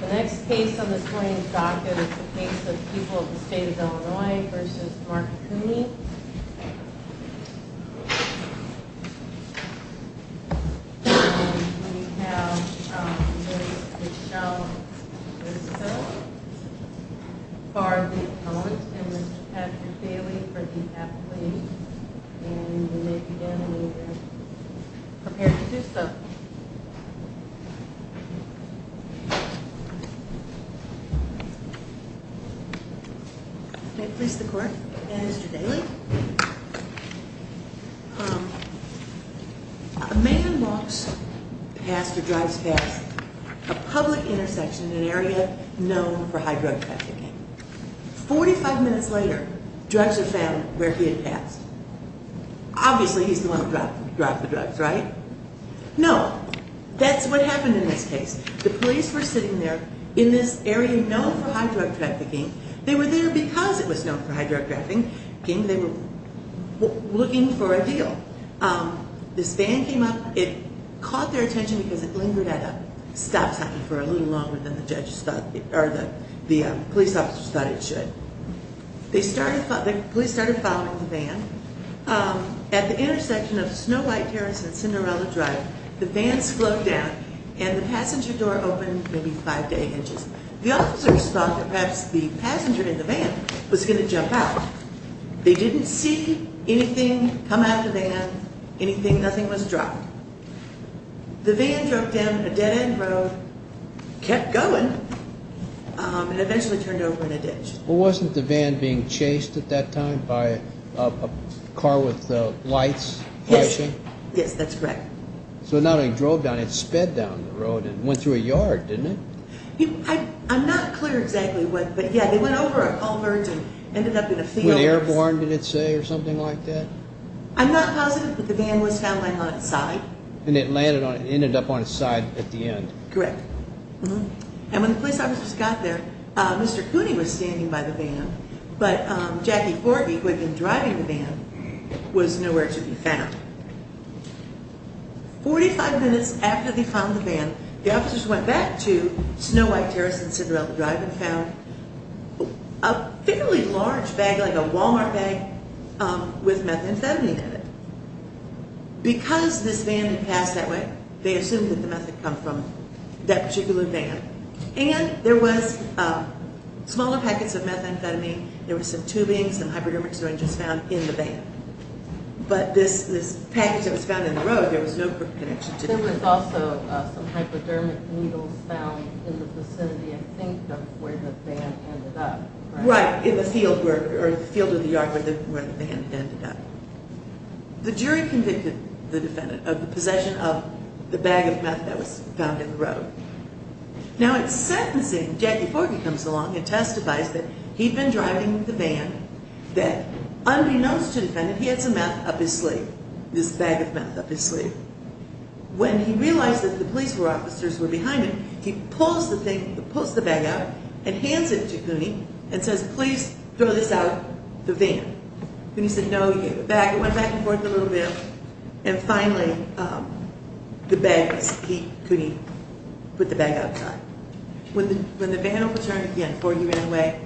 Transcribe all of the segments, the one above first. The next case on this morning's docket is the case of People of the State of Illinois v. Mark Kuni. And we have Ms. Michele Giusto for the account, and Mr. Patrick Bailey for the appellate. And you may begin when you are prepared to do so. May it please the court, and Mr. Bailey. A man walks past or drives past a public intersection in an area known for high drug trafficking. 45 minutes later, drugs are found where he had passed. Obviously he's the one who dropped the drugs, right? No. That's what happened in this case. The police were sitting there in this area known for high drug trafficking. They were there because it was known for high drug trafficking. They were looking for a deal. This van came up. It caught their attention because it lingered at a stop sign for a little longer than the police officers thought it should. The police started following the van. At the intersection of Snow White Terrace and Cinderella Drive, the van slowed down and the passenger door opened maybe 5 to 8 inches. The officers thought that perhaps the passenger in the van was going to jump out. They didn't see anything come out of the van, anything, nothing was dropped. The van drove down a dead end road, kept going, and eventually turned over in a ditch. Wasn't the van being chased at that time by a car with lights flashing? Yes. Yes, that's correct. So not only drove down, it sped down the road and went through a yard, didn't it? I'm not clear exactly what, but yeah, they went over a culvert and ended up in a field. Was it airborne, did it say, or something like that? I'm not positive, but the van was found lying on its side. And it landed on, it ended up on its side at the end. Correct. And when the police officers got there, Mr. Cooney was standing by the van, but Jackie Forgey, who had been driving the van, was nowhere to be found. 45 minutes after they found the van, the officers went back to Snow White Terrace and Cinderella Drive and found a fairly large bag, like a Walmart bag, with methamphetamine in it. Because this van had passed that way, they assumed that the meth had come from that particular van. And there was smaller packets of methamphetamine, there was some tubing, some hypodermic syringes found in the van. But this package that was found in the road, there was no connection to the van. There was also some hypodermic needles found in the vicinity, I think, of where the van ended up. Right, in the field where, or the field of the yard where the van ended up. The jury convicted the defendant of the possession of the bag of meth that was found in the road. Now at sentencing, Jackie Forgey comes along and testifies that he'd been driving the van, that unbeknownst to the defendant, he had some meth up his sleeve, this bag of meth up his sleeve. When he realized that the police officers were behind him, he pulls the bag out and hands it to Cooney and says, please throw this out the van. Cooney said no, he gave it back, it went back and forth a little bit, and finally the bag was, Cooney put the bag outside. When the van overturned again, Forgey ran away,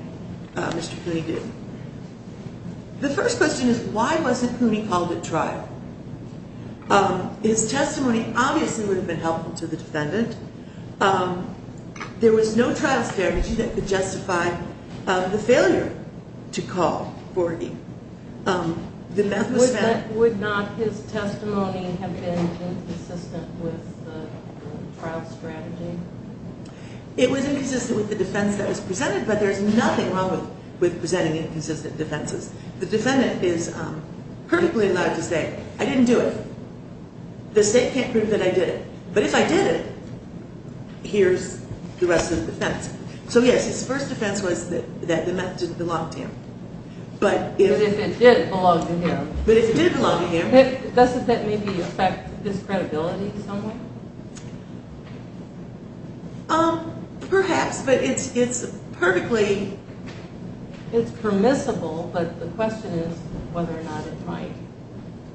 Mr. Cooney did. The first question is, why wasn't Cooney called at trial? His testimony obviously would have been helpful to the defendant. There was no trial strategy that could justify the failure to call Forgey. Would not his testimony have been inconsistent with the trial strategy? It was inconsistent with the defense that was presented, but there's nothing wrong with presenting inconsistent defenses. The defendant is perfectly allowed to say, I didn't do it. The state can't prove that I did it, but if I did it, here's the rest of the defense. So yes, his first defense was that the meth didn't belong to him. But if it did belong to him, doesn't that maybe affect his credibility somewhere? Perhaps, but it's perfectly... It's perfectly possible, but the question is whether or not it might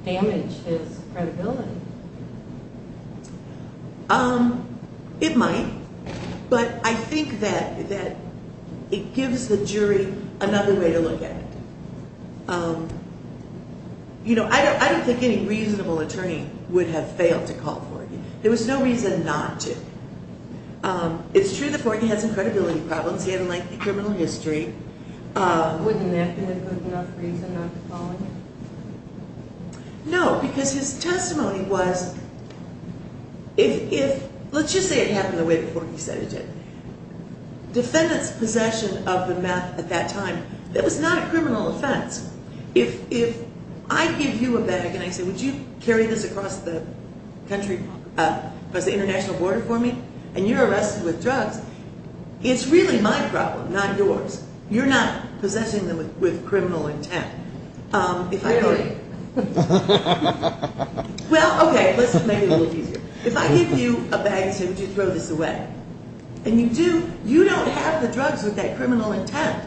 damage his credibility. It might, but I think that it gives the jury another way to look at it. I don't think any reasonable attorney would have failed to call Forgey. There was no reason not to. It's true that Forgey has some credibility problems, he had a lengthy criminal history. Wouldn't that have been a good enough reason not to call him? No, because his testimony was... Let's just say it happened the way before he said it did. Defendant's possession of the meth at that time, that was not a criminal offense. If I give you a bag and I say, would you carry this across the country, across the international border for me, and you're arrested with drugs, it's really my problem, not yours. You're not possessing them with criminal intent. Really? Well, okay, let's make it a little easier. If I give you a bag and say, would you throw this away? And you do, you don't have the drugs with that criminal intent.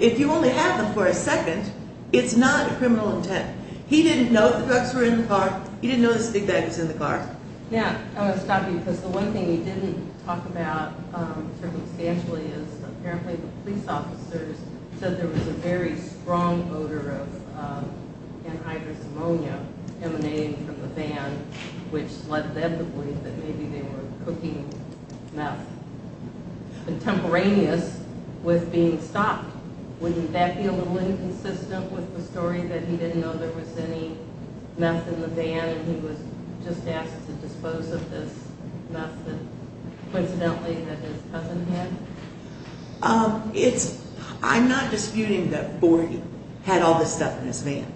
If you only have them for a second, it's not a criminal intent. He didn't know the drugs were in the car, he didn't know this big bag was in the car. Yeah, I want to stop you because the one thing he didn't talk about circumstantially is apparently the police officers said there was a very strong odor of antivirus ammonia emanating from the van, which led them to believe that maybe they were cooking meth. Contemporaneous with being stopped. Wouldn't that be a little inconsistent with the story that he didn't know there was any meth in the van and he was just asked to dispose of this meth that coincidentally that his cousin had? I'm not disputing that Forgey had all this stuff in his van.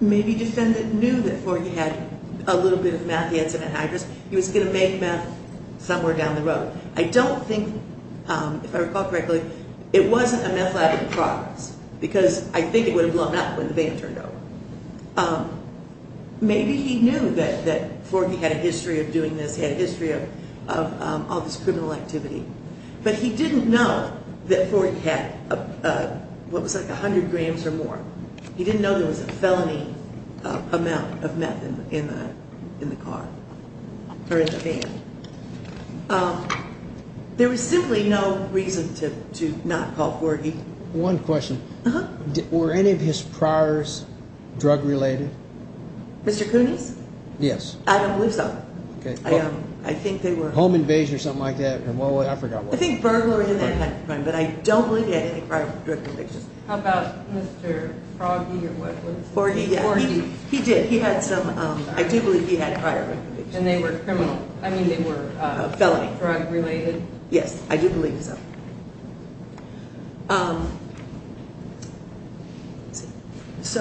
Maybe Defendant knew that Forgey had a little bit of meth, he had some antivirus, he was going to make meth somewhere down the road. I don't think, if I recall correctly, it wasn't a meth lab in progress, because I think it would have blown up when the van turned over. Maybe he knew that Forgey had a history of doing this, he had a history of all this criminal activity, but he didn't know that Forgey had what was like 100 grams or more. He didn't know there was a felony amount of meth in the car, or in the van. There was simply no reason to not call Forgey. One question. Were any of his priors drug-related? Mr. Coonies? Yes. I don't believe so. Home invasion or something like that? I think burglary, but I don't believe he had any prior drug convictions. How about Mr. Froggy? Forgey, yes. He did. I do believe he had prior drug convictions. And they were criminal, I mean they were drug-related? Yes, I do believe so.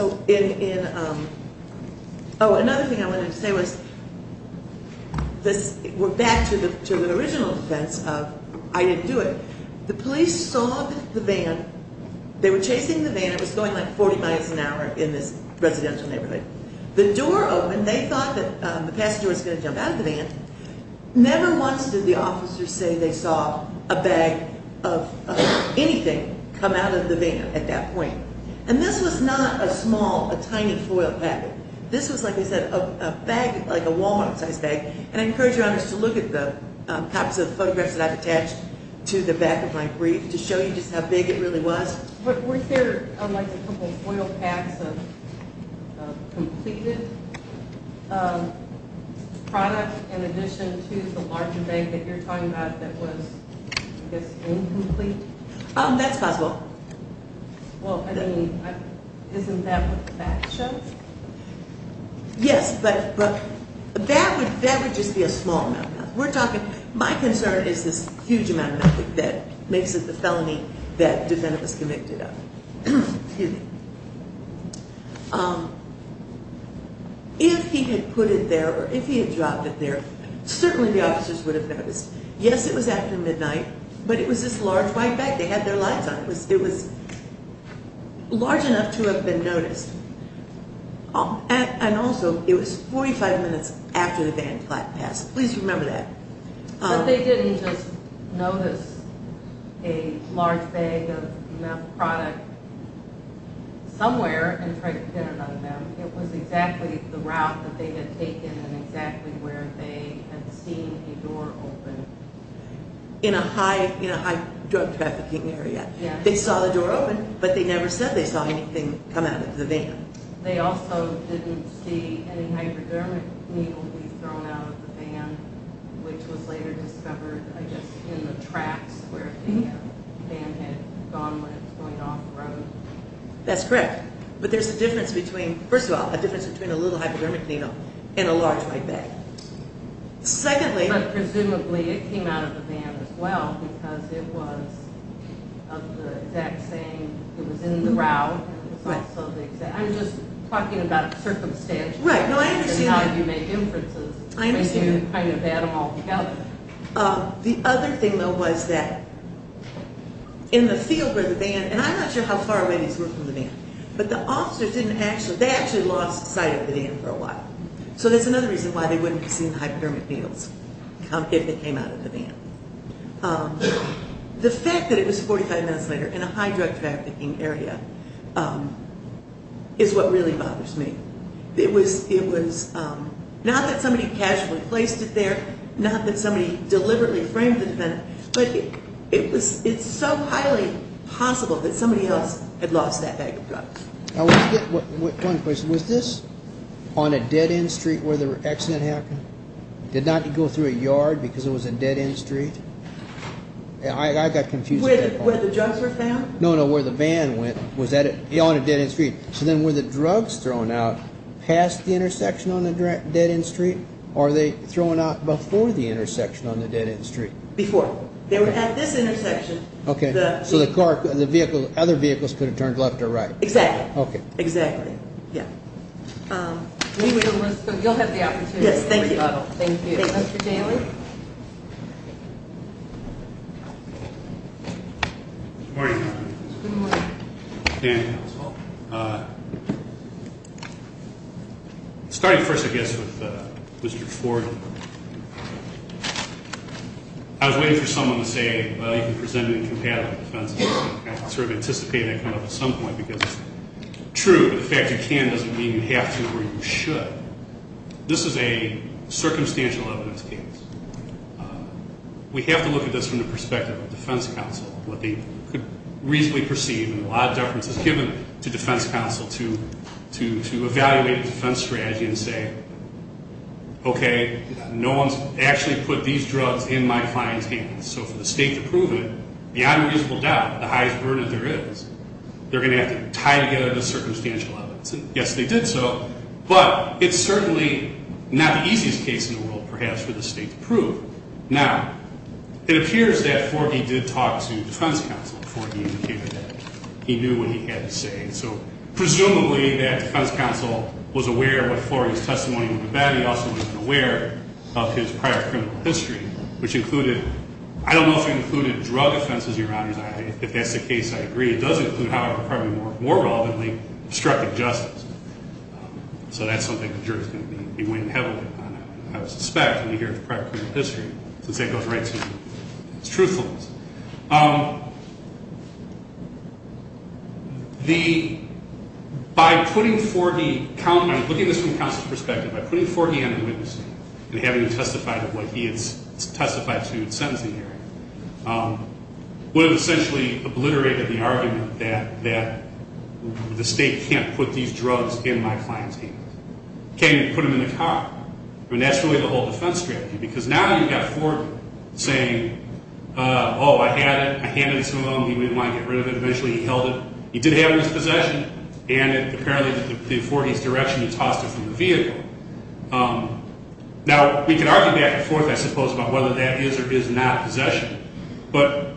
Okay. Oh, another thing I wanted to say was, we're back to the original defense of I didn't do it. The police saw the van, they were chasing the van, it was going like 40 miles an hour in this residential neighborhood. The door opened, they thought that the passenger was going to jump out of the van. Never once did the officers say they saw a bag of anything come out of the van at that point. And this was not a small, a tiny foil pack. This was, like I said, a bag, like a Wal-Mart sized bag. And I encourage your honors to look at the copies of photographs that I've attached to the back of my brief to show you just how big it really was. But weren't there like a couple of foil packs of completed product in addition to the larger bag that you're talking about that was, I guess, incomplete? That's possible. Well, I mean, isn't that what the facts show? Yes, but that would just be a small amount. We're talking, my concern is this huge amount of money that makes it the felony that the defendant was convicted of. If he had put it there, or if he had dropped it there, certainly the officers would have noticed. Yes, it was after midnight, but it was this large white bag. They had their lights on. It was large enough to have been noticed. And also, it was 45 minutes after the van passed. Okay. But they didn't just notice a large bag of meth product somewhere and try to pin it on them. It was exactly the route that they had taken and exactly where they had seen a door open. In a high drug trafficking area. They saw the door open, but they never said they saw anything come out of the van. They also didn't see any hypodermic needle be thrown out of the van, which was later discovered, I guess, in the tracks where the van had gone when it was going off the road. That's correct. But there's a difference between, first of all, a difference between a little hypodermic needle and a large white bag. But presumably, it came out of the van as well because it was of the exact same, it was in the route. I'm just talking about circumstances and how you make inferences. You kind of add them all together. The other thing, though, was that in the field where the van, and I'm not sure how far away these were from the van, but the officers didn't actually, they actually lost sight of the van for a while. So that's another reason why they wouldn't have seen the hypodermic needles if they came out of the van. The fact that it was 45 minutes later in a high drug trafficking area is what really bothers me. It was, not that somebody casually placed it there, not that somebody deliberately framed the defendant, but it's so highly possible that somebody else had lost that bag of drugs. One question, was this on a dead-end street where the accident happened? Did not go through a yard because it was a dead-end street? I got confused. Where the drugs were found? No, no, where the van went. It was on a dead-end street. So then were the drugs thrown out past the intersection on the dead-end street? Or were they thrown out before the intersection on the dead-end street? Before. They were at this intersection. Okay. So the car, the vehicle, other vehicles could have turned left or right? Exactly. Okay. Exactly. Yeah. You'll have the opportunity. Yes, thank you. Thank you. Thank you, Mr. Daly. Good morning. Good morning. Starting first, I guess, with Mr. Ford. I was waiting for someone to say, well, you can present an incompatible defense. I sort of anticipated that coming up at some point because, true, the fact you can doesn't mean you have to or you should. This is a circumstantial evidence case. We have to look at this from the perspective of a defense counsel, what they could reasonably perceive, and a lot of deference is given to defense counsel to evaluate a defense strategy and say, okay, no one's actually put these drugs in my client's hands. So for the state to prove it, beyond a reasonable doubt, the highest burden there is, they're going to have to tie together the circumstantial evidence. Yes, they did so, but it's certainly not the easiest case in the world, perhaps, for the state to prove. Now, it appears that Fordy did talk to defense counsel before he indicated that he knew what he had to say. So presumably that defense counsel was aware of what Fordy's testimony would have been. He also was aware of his prior criminal history, which included, I don't know if it included drug offenses, Your Honors. If that's the case, I agree. It does include, however, probably more relevantly, obstructive justice. So that's something the jury's going to be weighing heavily on, I would suspect, when you hear his prior criminal history, since that goes right to his truthfulness. The, by putting Fordy, looking at this from counsel's perspective, by putting Fordy under witness, and having him testify to what he had testified to in sentencing hearing, would have essentially obliterated the argument that the state can't put these drugs in my client's hands. Can't even put them in the car. I mean, that's really the whole defense strategy, because now you've got Ford saying, oh, I had it, I handed it to him, he didn't want to get rid of it. Eventually he held it. He did have it in his possession, and apparently before he's direction, he tossed it from the vehicle. Now, we can argue back and forth, I suppose, about whether that is or is not possession. But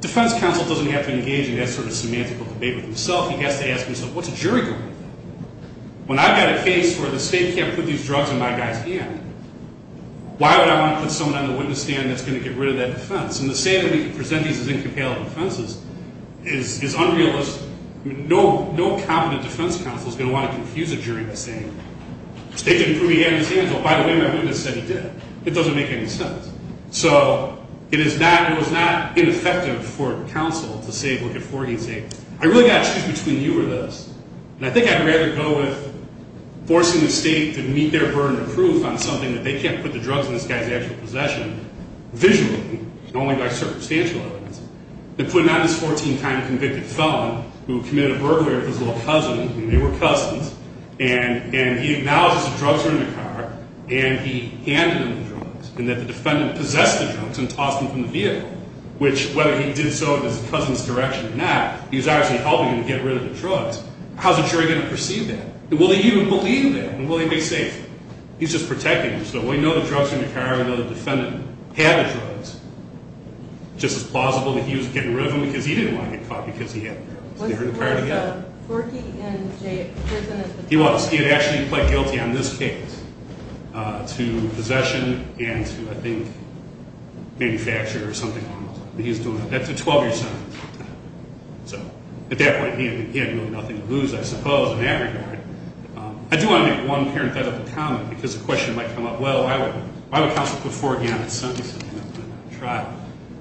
defense counsel doesn't have to engage in that sort of semantical debate with himself. He has to ask himself, what's a jury going to think? When I've got a case where the state can't put these drugs in my guy's hand, why would I want to put someone on the witness stand that's going to get rid of that defense? And to say that we can present these as incompatible defenses is unrealistic. No competent defense counsel is going to want to confuse a jury by saying, the state didn't put me in his hands. Oh, by the way, my witness said he did. It doesn't make any sense. So, it is not, it was not ineffective for counsel to say, look at Fordy and say, I really got to choose between you or this. And I think I'd rather go with forcing the state to meet their burden of proof on something that they can't put the drugs in this guy's actual possession, visually, and only by circumstantial evidence, than putting on this 14-time convicted felon who committed a burglary of his little cousin, and they were cousins, and he acknowledges the drugs are in the car, and he handed him the drugs, and that the defendant possessed the drugs and tossed them from the vehicle, which, whether he did so in his cousin's direction or not, he was actually helping him to get rid of the drugs. How's a jury going to perceive that? Will they even believe that? And will he be safe? He's just protecting him. So, we know the drugs are in the car. We know the defendant had the drugs. Just as plausible that he was getting rid of them, because he didn't want to get caught because he had them. They were in the car together. Was Fordy in prison at the time? He was. He had actually pled guilty on this case to possession and to, I think, manufacture or something along those lines. That's a 12-year sentence. So, at that point, he had really nothing to lose, I suppose, in that regard. I do want to make one parenthetical comment, because the question might come up, well, why would counsel put Fordy on that sentence?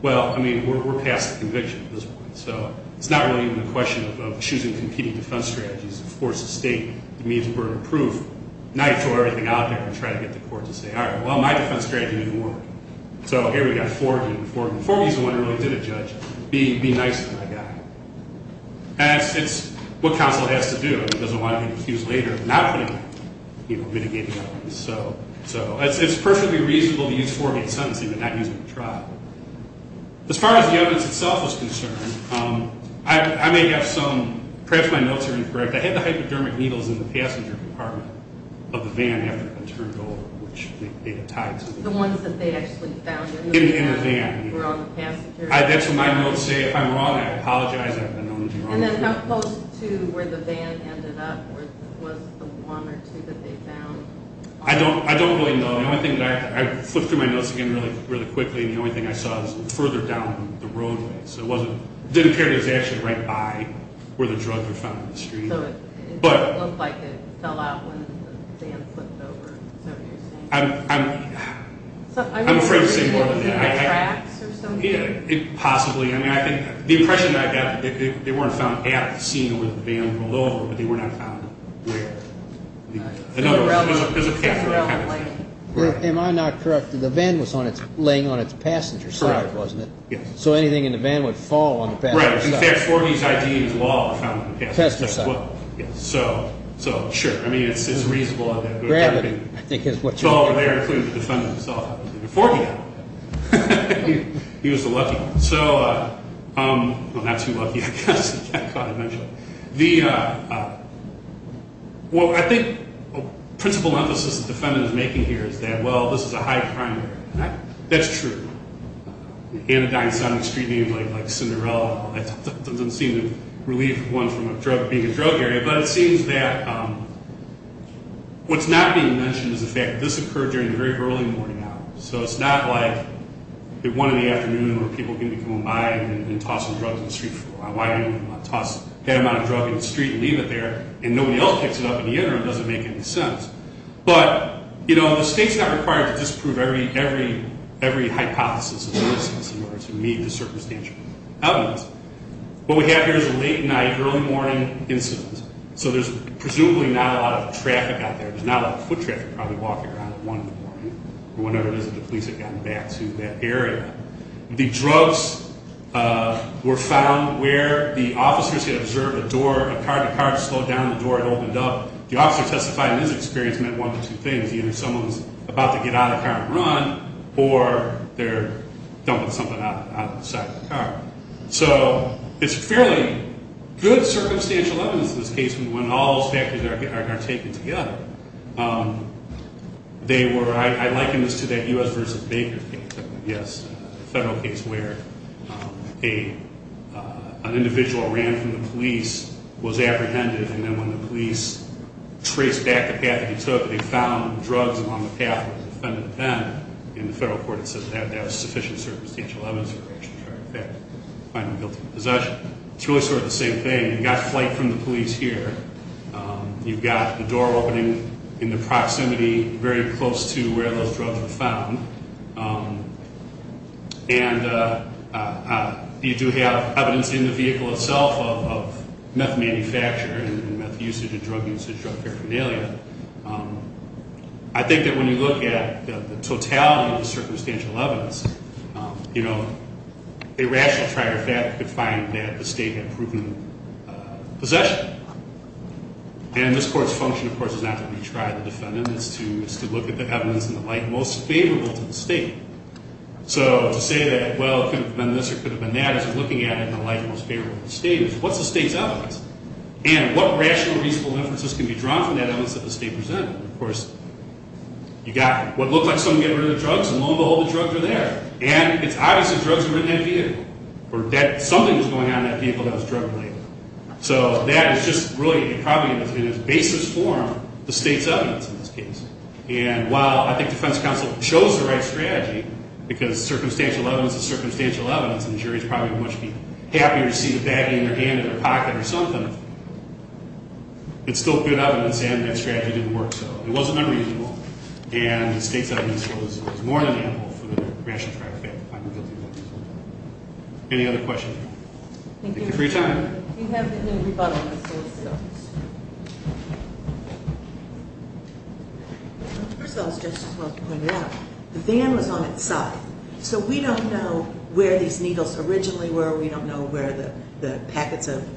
Well, I mean, we're past the conviction at this point. So, it's not really even a question of choosing competing defense strategies. Of course, the state, the means were improved. Now you throw everything out there and try to get the courts to say, all right, well, my defense strategy didn't work. So, here we've got Fordy. Fordy's the one who really did it, Judge. Be nice to my guy. And it's what counsel has to do. It doesn't want to be accused later of not putting, you know, mitigating elements. So, it's perfectly reasonable to use Fordy in sentencing and not use him in trial. As far as the evidence itself is concerned, I may have some, perhaps my notes are incorrect. I had the hypodermic needles in the passenger compartment of the van after it had been turned over, which they had tied to the van. The ones that they actually found in the van. In the van. Were on the passenger. That's what my notes say. If I'm wrong, I apologize. I've been known to be wrong. And then how close to where the van ended up was the one or two that they found? I don't, I don't really know. The only thing that I, I flipped through my notes again really, really quickly, and the only thing I saw was further down the roadway. So, it wasn't, it didn't appear that it was actually right by where the drugs were found on the street. So, it didn't look like it fell out when the van flipped over. So, you're saying. I'm, I'm, I'm afraid to say more than that. Possibly. I mean, I think the impression that I got, they weren't found at the scene where the van rolled over, but they were not found where. Another one. Am I not correct? The van was on its, laying on its passenger side, wasn't it? Yes. So, anything in the van would fall on the passenger side. Right. In fact, Forby's I.D. is law. Passenger side. Yes. So, so, sure. I mean, it's, it's reasonable. Gravity. I think is what you mean. It was all over there, including the defendant himself. Forby had one. He was the lucky one. So, well, not too lucky, I guess. I can't quite imagine. The, well, I think a principal emphasis the defendant is making here is that, well, this is a high crime area. That's true. Anodyne's not an extremely, like, like, Cinderella. It doesn't seem to relieve one from a drug, being a drug area. But it seems that what's not being mentioned is the fact that this occurred during the very early morning hours. So, it's not like at one in the afternoon where people are going to be coming by and tossing drugs on the street floor. Why would anyone want to toss that amount of drug in the street and leave it there and nobody else picks it up in the interim? It doesn't make any sense. But, you know, the state's not required to disprove every, every, every hypothesis in order to meet the circumstantial evidence. What we have here is a late night, early morning incident. So, there's presumably not a lot of traffic out there. There's not a lot of foot traffic probably walking around at one in the morning or whenever it is that the police have gotten back to that area. The drugs were found where the officers had observed a door, a car. The car had slowed down. The door had opened up. The officer testified that his experience meant one of two things. Either someone's about to get out of the car and run or they're dumping something out of the side of the car. So, it's fairly good circumstantial evidence in this case when all those factors are taken together. They were, I liken this to that U.S. versus Baker case. Yes, a federal case where an individual ran from the police, was apprehended, and then when the police traced back the path that he took, they found drugs along the path of the defendant. In the federal court it says that that was sufficient circumstantial evidence in relation to the fact that the defendant was guilty of possession. It's really sort of the same thing. You've got flight from the police here. You've got the door opening in the proximity very close to where those drugs were found. And you do have evidence in the vehicle itself of meth manufacture and meth usage and drug usage, drug paraphernalia. I think that when you look at the totality of the circumstantial evidence, you know, a rational trial could find that the state had proven possession. And this court's function, of course, is not to retry the defendant. It's to look at the evidence in the light most favorable to the state. So, to say that, well, it could have been this or it could have been that, is looking at it in the light most favorable to the state. What's the state's evidence? And what rational, reasonable inferences can be drawn from that evidence that the state presented? Of course, you've got what looked like someone getting rid of the drugs, and lo and behold, the drugs are there. And it's obvious that drugs were in that vehicle or that something was going on in that vehicle that was drug-related. So that is just really probably in its basest form the state's evidence in this case. And while I think defense counsel chose the right strategy because circumstantial evidence is circumstantial evidence and the jury would probably much be happier to see the baggie in their hand or their pocket or something, it's still good evidence and that strategy didn't work. So it wasn't unreasonable. And the state's evidence was more than ample for the rational trial to find the guilty. Any other questions? Thank you for your time. We have a new rebuttal. First of all, as Justice Welk pointed out, the van was on its side. So we don't know where these needles originally were. We don't know where the packets of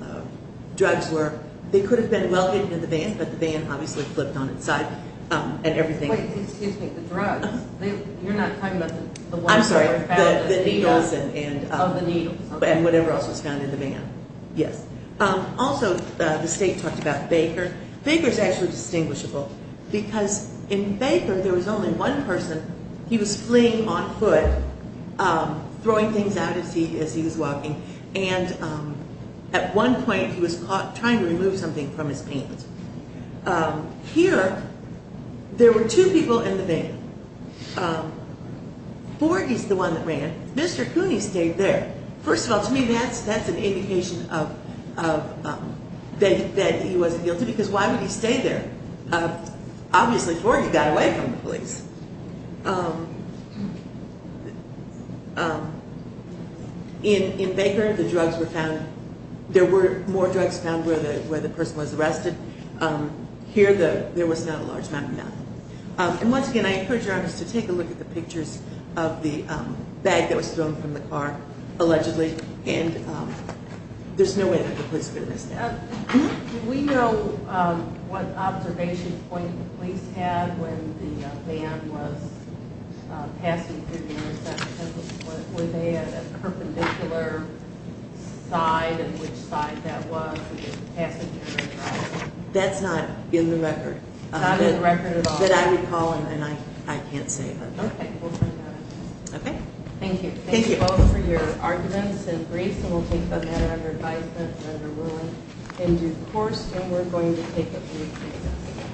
drugs were. They could have been well hidden in the van, but the van obviously flipped on its side and everything. Wait, excuse me. The drugs. You're not talking about the ones that were found? I'm sorry. The needles and whatever else was found in the van. Yes. Also, the state talked about Baker. Baker's actually distinguishable because in Baker there was only one person. He was fleeing on foot, throwing things out as he was walking, and at one point he was caught trying to remove something from his pants. Here, there were two people in the van. Forgey's the one that ran. Mr. Cooney stayed there. First of all, to me, that's an indication that he wasn't guilty because why would he stay there? Obviously, Forgey got away from the police. In Baker, the drugs were found. There were more drugs found where the person was arrested. Here, there was not a large amount of them. And once again, I encourage our audience to take a look at the pictures of the bag that was thrown from the car, allegedly, and there's no way that the police would have been arrested. Do we know what observation point the police had when the van was passing through the intersection? Were they at a perpendicular side, and which side that was? That's not in the record. Not in the record at all? That I recall, and I can't say. Okay, we'll bring that up. Okay. Thank you. Thank you both for your arguments and briefs, and we'll take them at our advisement. And we're going to take a brief break.